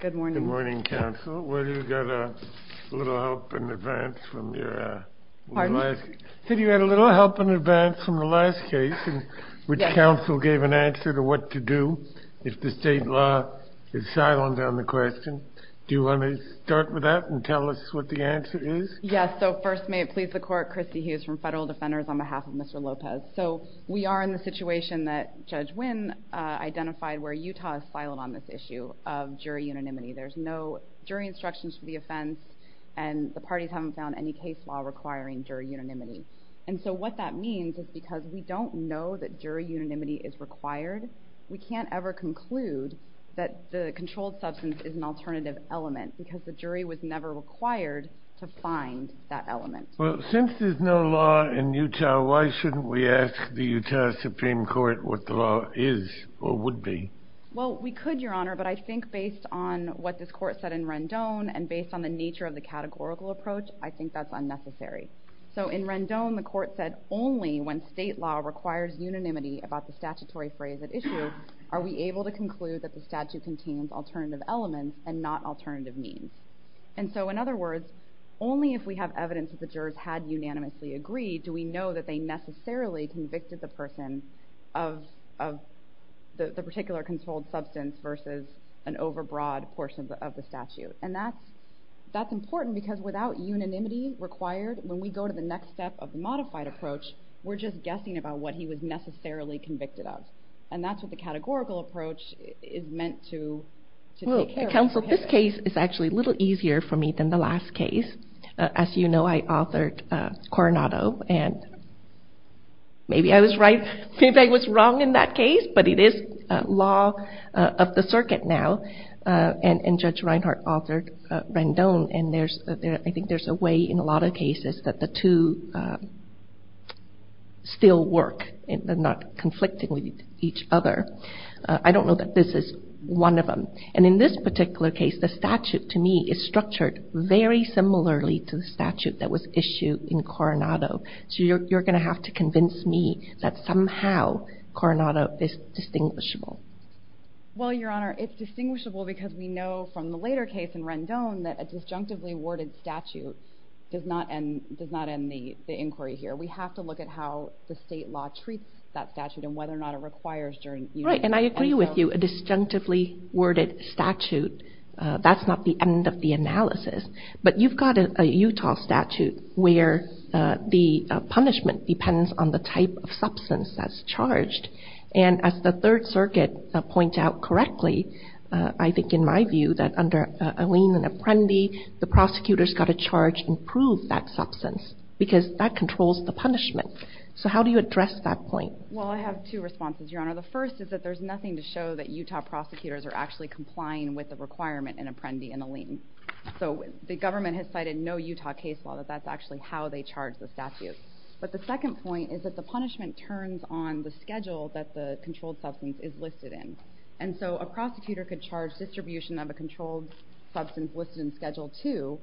Good morning, counsel. You said you had a little help in advance from the last case, in which counsel gave an answer to what to do if the state law is silent on the question. Do you want to start with that and tell us what the answer is? Yes. So first, may it please the Court, Christy Hughes from Federal Defenders on behalf of Mr. Lopes. So we are in the situation that Judge Wynn identified where Utah is silent on this issue of jury unanimity. There's no jury instructions for the offense, and the parties haven't found any case law requiring jury unanimity. And so what that means is because we don't know that jury unanimity is required, we can't ever conclude that the controlled substance is an alternative element because the jury was never required to find that element. Well, since there's no law in Utah, why shouldn't we ask the Utah Supreme Court what the law is or would be? Well, we could, Your Honor, but I think based on what this Court said in Rendon and based on the nature of the categorical approach, I think that's unnecessary. So in Rendon, the Court said only when state law requires unanimity about the statutory phrase at issue are we able to conclude that the statute contains alternative elements and not alternative means. And so in other words, only if we have evidence that the jurors had unanimously agreed do we know that they necessarily convicted the person of the particular controlled substance versus an overbroad portion of the statute. And that's important because without unanimity required, when we go to the next step of the modified approach, we're just guessing about what he was necessarily convicted of. And that's what the categorical approach is meant to take care of. Counsel, this case is actually a little easier for me than the last case. As you know, I authored Coronado, and maybe I was right, maybe I was wrong in that case, but it is law of the circuit now. And Judge Reinhart authored Rendon, and I think there's a way in a lot of cases that the two still work and they're not conflicting with each other. I don't know that this is one of them. And in this particular case, the statute, to me, is structured very similarly to the statute that was issued in Coronado. So you're going to have to convince me that somehow Coronado is distinguishable. Well, Your Honor, it's distinguishable because we know from the later case in Rendon that a disjunctively worded statute does not end the inquiry here. We have to look at how the state law treats that statute and whether or not it requires jury union. Right, and I agree with you. A disjunctively worded statute, that's not the end of the analysis. But you've got a Utah statute where the punishment depends on the type of substance that's charged. And as the Third Circuit points out correctly, I think in my view that under a lien and apprendi the prosecutor's got to charge and prove that substance because that controls the punishment. So how do you address that point? Well, I have two responses, Your Honor. The first is that there's nothing to show that Utah prosecutors are actually complying with the requirement in apprendi and a lien. So the government has cited no Utah case law that that's actually how they charge the statute. But the second point is that the punishment turns on the schedule that the controlled substance is listed in. And so a prosecutor could charge distribution of a controlled substance listed in Schedule 2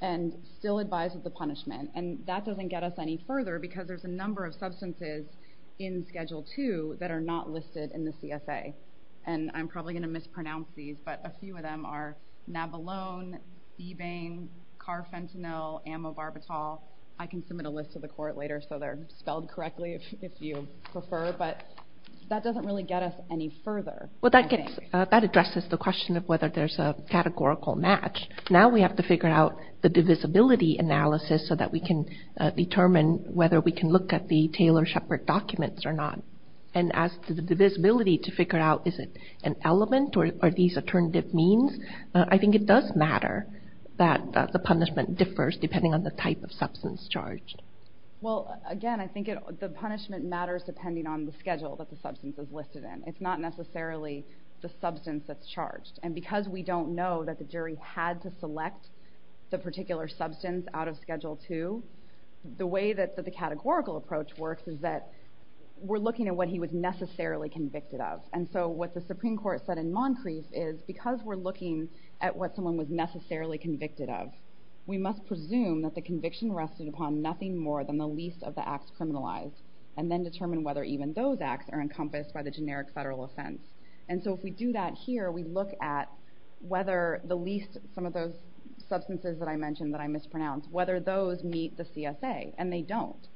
and still advise of the punishment. And that doesn't get us any further because there's a number of substances in Schedule 2 that are not listed in the CSA. And I'm probably going to mispronounce these, but a few of them are nabalone, ebane, carfentanil, amobarbital. I can submit a list to the court later so they're spelled correctly if you prefer. But that doesn't really get us any further. Well, that addresses the question of whether there's a categorical match. Now we have to figure out the divisibility analysis so that we can determine whether we can look at the Taylor-Shepard documents or not. And as to the divisibility to figure out is it an element or are these alternative means, I think it does matter that the punishment differs depending on the type of substance charged. Well, again, I think the punishment matters depending on the schedule that the substance is listed in. It's not necessarily the substance that's charged. And because we don't know that the jury had to select the particular substance out of Schedule 2, the way that the categorical approach works is that we're looking at what he was necessarily convicted of. And so what the Supreme Court said in Moncrease is because we're looking at what someone was necessarily convicted of, we must presume that the conviction rested upon nothing more than the least of the acts criminalized and then determine whether even those acts are encompassed by the generic federal offense. And so if we do that here, we look at whether the least, some of those substances that I mentioned that I mispronounced, whether those meet the CSA, and they don't.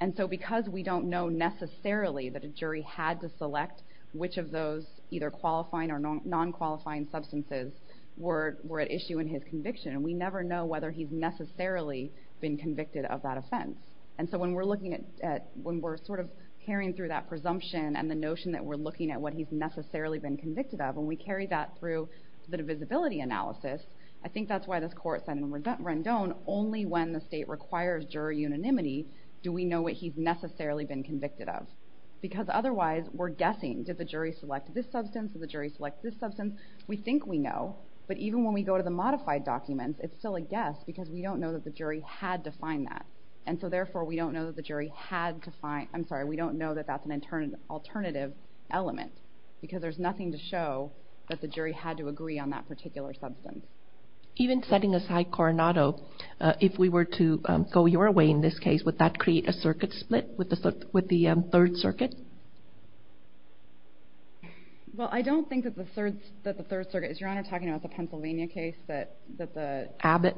And so because we don't know necessarily that a jury had to select which of those either qualifying or non-qualifying substances were at issue in his conviction, we never know whether he's necessarily been convicted of that offense. And so when we're sort of carrying through that presumption and the notion that we're looking at what he's necessarily been convicted of and we carry that through the divisibility analysis, I think that's why this court said in Rendon, only when the state requires jury unanimity do we know what he's necessarily been convicted of. Because otherwise, we're guessing, did the jury select this substance? Did the jury select this substance? We think we know, but even when we go to the modified documents, it's still a guess because we don't know that the jury had to find that. And so therefore, we don't know that the jury had to find, I'm sorry, we don't know that that's an alternative element because there's nothing to show that the jury had to agree on that particular substance. Even setting aside Coronado, if we were to go your way in this case, would that create a circuit split with the Third Circuit? Well, I don't think that the Third Circuit, is Your Honor talking about the Pennsylvania case that the Abbott?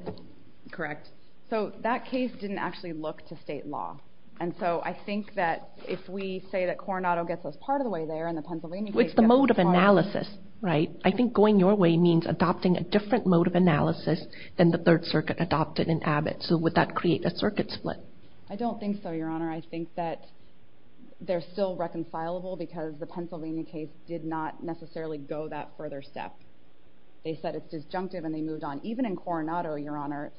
Correct. So that case didn't actually look to state law. And so I think that if we say that Coronado gets us part of the way there and the Pennsylvania case gets us part of the way there. It's the mode of analysis, right? I think going your way means adopting a different mode of analysis than the Third Circuit adopted in Abbott. So would that create a circuit split? I don't think so, Your Honor. I think that they're still reconcilable because the Pennsylvania case did not necessarily go that further step. They said it's disjunctive and they moved on. Even in Coronado, Your Honor,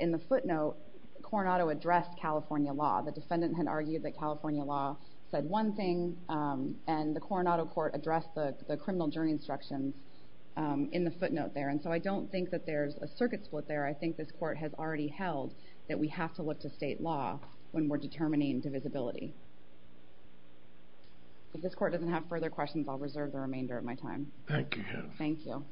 in the footnote, Coronado addressed California law. The defendant had argued that California law said one thing and the Coronado court addressed the criminal jury instructions in the footnote there. And so I don't think that there's a circuit split there. I think this court has already held that we have to look to state law when we're determining divisibility. If this court doesn't have further questions, I'll reserve the remainder of my time. Thank you. Thank you.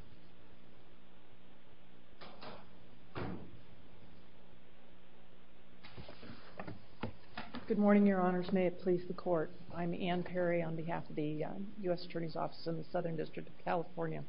Good morning, Your Honors. May it please the court. I'm Ann Perry on behalf of the U.S. Attorney's Office in the Southern District of California.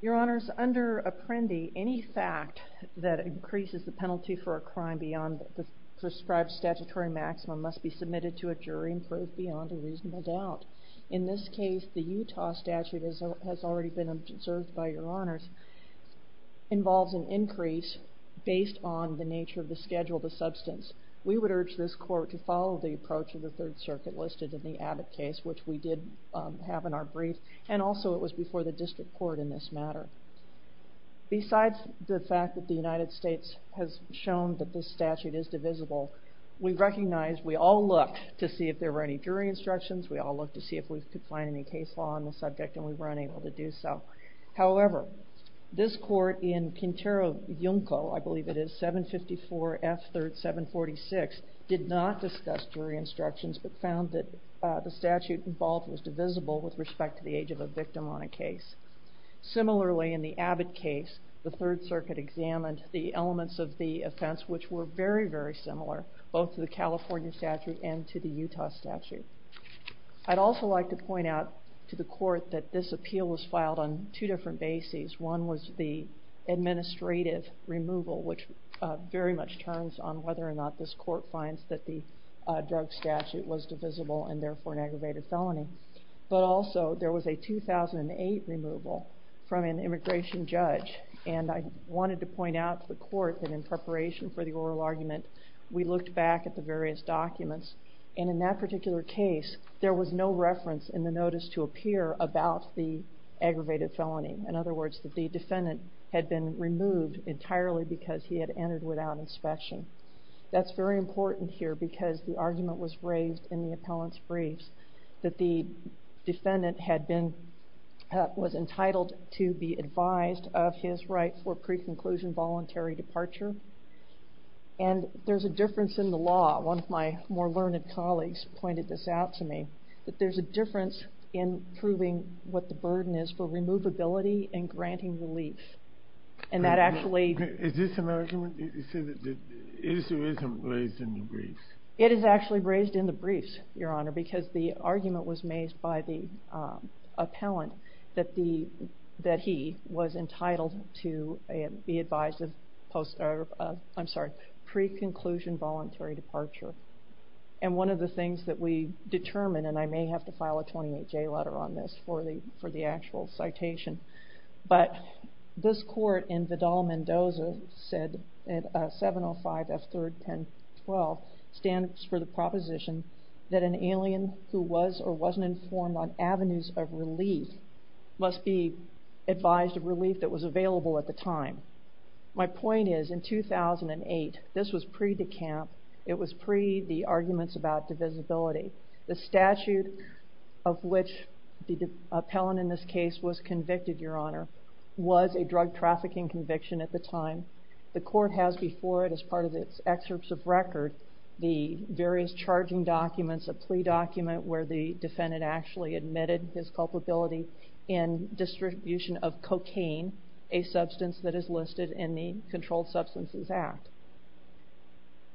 Your Honors, under Apprendi, any fact that increases the penalty for a crime beyond the prescribed statutory maximum must be submitted to a jury and proved beyond a reasonable doubt. In this case, the Utah statute, as has already been observed by Your Honors, involves an increase based on the nature of the schedule of the substance. We would urge this court to follow the approach of the Third Circuit listed in the Abbott case, which we did have in our brief, and also it was before the district court in this matter. Besides the fact that the United States has shown that this statute is divisible, we recognize we all looked to see if there were any jury instructions. We all looked to see if we could find any case law on the subject, and we were unable to do so. However, this court in Quintero Junco, I believe it is, 754 F. 3rd 746, did not discuss jury instructions, but found that the statute involved was divisible with respect to the age of a victim on a case. Similarly, in the Abbott case, the Third Circuit examined the elements of the offense, which were very, very similar, both to the California statute and to the Utah statute. I'd also like to point out to the court that this appeal was filed on two different bases. One was the administrative removal, which very much turns on whether or not this court finds that the drug statute was divisible and therefore an aggravated felony. But also, there was a 2008 removal from an immigration judge, and I wanted to point out to the court that in preparation for the oral argument, we looked back at the various documents, and in that particular case, there was no reference in the notice to appear about the aggravated felony. In other words, that the defendant had been removed entirely because he had entered without inspection. That's very important here because the argument was raised in the appellant's briefs that the defendant was entitled to be advised of his right for pre-conclusion voluntary departure. And there's a difference in the law. One of my more learned colleagues pointed this out to me, that there's a difference in proving what the burden is for removability and granting relief. And that actually... Is this an argument? You said that the issue isn't raised in the briefs. It is actually raised in the briefs, Your Honor, because the argument was made by the appellant that he was entitled to be advised of pre-conclusion voluntary departure. And one of the things that we determined, and I may have to file a 28-J letter on this for the actual citation, but this court in Vidal-Mendoza said, 705 F. 3rd 1012, stands for the proposition that an alien who was or wasn't informed on avenues of relief must be advised of relief that was available at the time. My point is, in 2008, this was pre-decamp. It was pre-the arguments about divisibility. The statute of which the appellant in this case was convicted, Your Honor, was a drug trafficking conviction at the time. The court has before it, as part of its excerpts of record, the various charging documents, a plea document where the defendant actually admitted his culpability in distribution of cocaine, a substance that is listed in the Controlled Substances Act.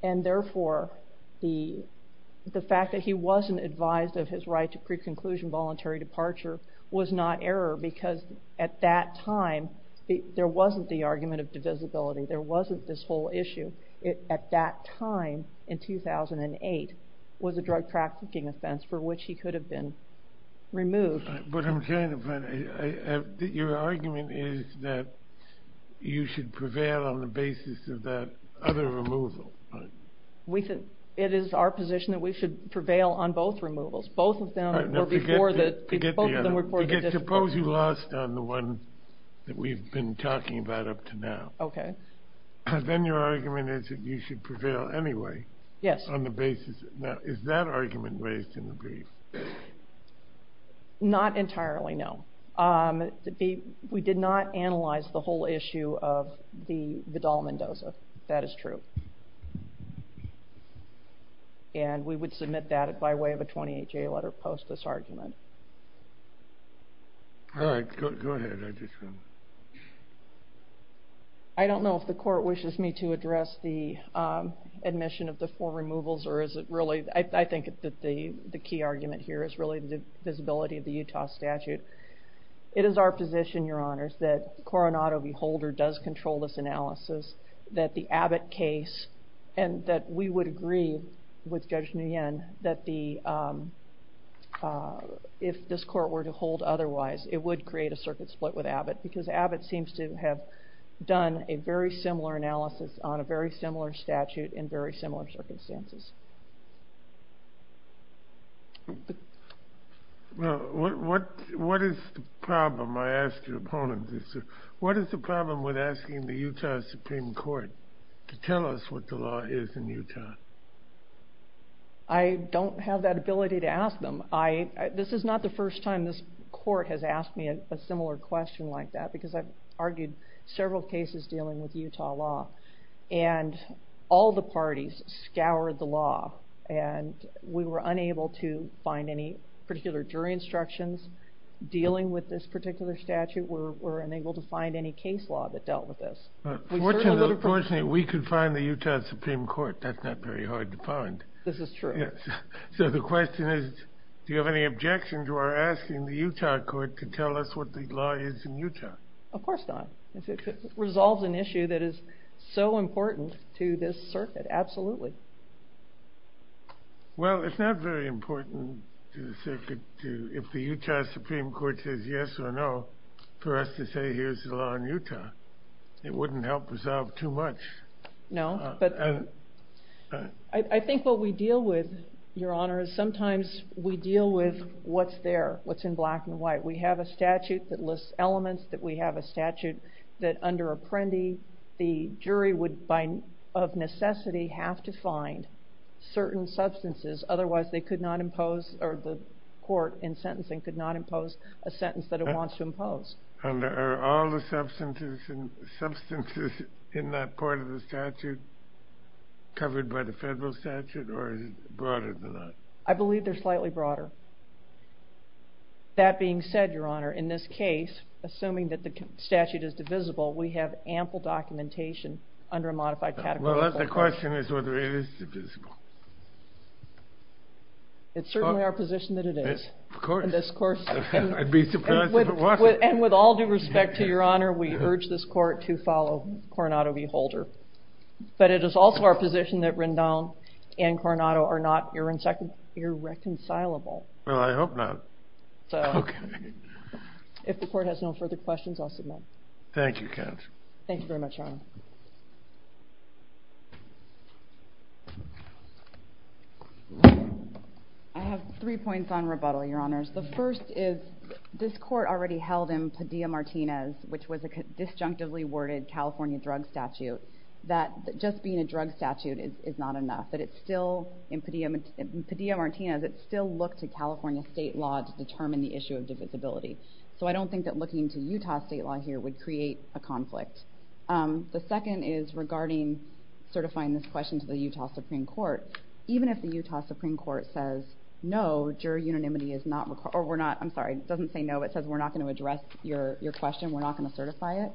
And therefore, the fact that he wasn't advised of his right to pre-conclusion voluntary departure was not error because at that time, there wasn't the argument of divisibility. There wasn't this whole issue. At that time, in 2008, was a drug trafficking offense for which he could have been removed. But I'm trying to find... Your argument is that you should prevail on the basis of that other removal. It is our position that we should prevail on both removals. Both of them were before the... Suppose you lost on the one that we've been talking about up to now. Okay. Then your argument is that you should prevail anyway. Yes. On the basis... Now, is that argument raised in the brief? Not entirely, no. We did not analyze the whole issue of the Vidal-Mendoza. That is true. And we would submit that by way of a 28-J letter post this argument. All right, go ahead. I don't know if the court wishes me to address the admission of the four removals or is it really... I think that the key argument here is really the visibility of the Utah statute. It is our position, Your Honors, that Coronado v. Holder does control this analysis, that the Abbott case and that we would agree with Judge Nguyen that if this court were to hold otherwise, it would create a circuit split with Abbott because Abbott seems to have done a very similar analysis on a very similar statute in very similar circumstances. Well, what is the problem, I ask your opponent, what is the problem with asking the Utah Supreme Court to tell us what the law is in Utah? I don't have that ability to ask them. This is not the first time this court has asked me a similar question like that because I've argued several cases dealing with Utah law and all the parties scoured the law and we were unable to find any particular jury instructions dealing with this particular statute. We were unable to find any case law that dealt with this. Fortunately, we could find the Utah Supreme Court. That's not very hard to find. This is true. So the question is, do you have any objection to our asking the Utah court to tell us what the law is in Utah? Of course not. If it resolves an issue that is so important to this circuit, absolutely. Well, it's not very important to the circuit if the Utah Supreme Court says yes or no for us to say here's the law in Utah. It wouldn't help us out too much. No, but I think what we deal with, Your Honor, is sometimes we deal with what's there, what's in black and white. We have a statute that lists elements, that we have a statute that under Apprendi the jury would by necessity have to find certain substances otherwise they could not impose or the court in sentencing could not impose a sentence that it wants to impose. Are all the substances in that part of the statute covered by the federal statute or is it broader than that? I believe they're slightly broader. That being said, Your Honor, in this case, assuming that the statute is divisible, we have ample documentation under a modified category. Well, the question is whether it is divisible. It's certainly our position that it is. Of course. In this course. I'd be surprised if it wasn't. And with all due respect to Your Honor, we urge this court to follow Coronado v. Holder. But it is also our position that Rendon and Coronado are not irreconcilable. Well, I hope not. Okay. If the court has no further questions, I'll submit. Thank you, Kat. Thank you very much, Your Honor. I have three points on rebuttal, Your Honors. The first is this court already held in Padilla-Martinez, which was a disjunctively worded California drug statute, that just being a drug statute is not enough. In Padilla-Martinez, it still looked to California state law to determine the issue of divisibility. So I don't think that looking to Utah state law here would create a conflict. The second is regarding certifying this question to the Utah Supreme Court. Even if the Utah Supreme Court says, no, jury unanimity is not required, or we're not, I'm sorry, it doesn't say no, but it says we're not going to address your question, we're not going to certify it,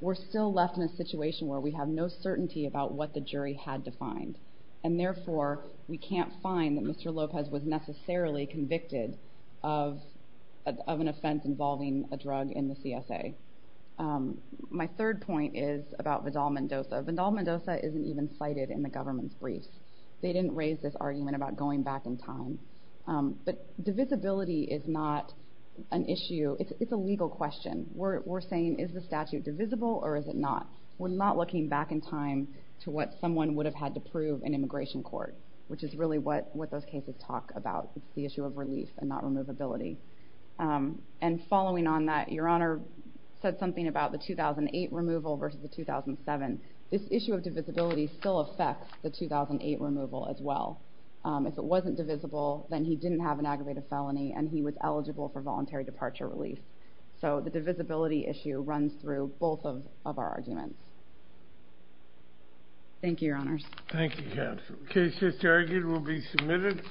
we're still left in a situation where we have no certainty about what the jury had defined. And therefore, we can't find that Mr. Lopez was necessarily convicted of an offense involving a drug in the CSA. My third point is about Vidal-Mendoza. Vidal-Mendoza isn't even cited in the government's briefs. They didn't raise this argument about going back in time. But divisibility is not an issue. It's a legal question. We're saying, is the statute divisible or is it not? We're not looking back in time to what someone would have had to prove in immigration court, which is really what those cases talk about. It's the issue of relief and not removability. And following on that, Your Honor said something about the 2008 removal versus the 2007. This issue of divisibility still affects the 2008 removal as well. If it wasn't divisible, then he didn't have an aggravated felony and he was eligible for voluntary departure relief. So the divisibility issue runs through both of our arguments. Thank you, Your Honors. Thank you, Counsel. The case just argued will be submitted.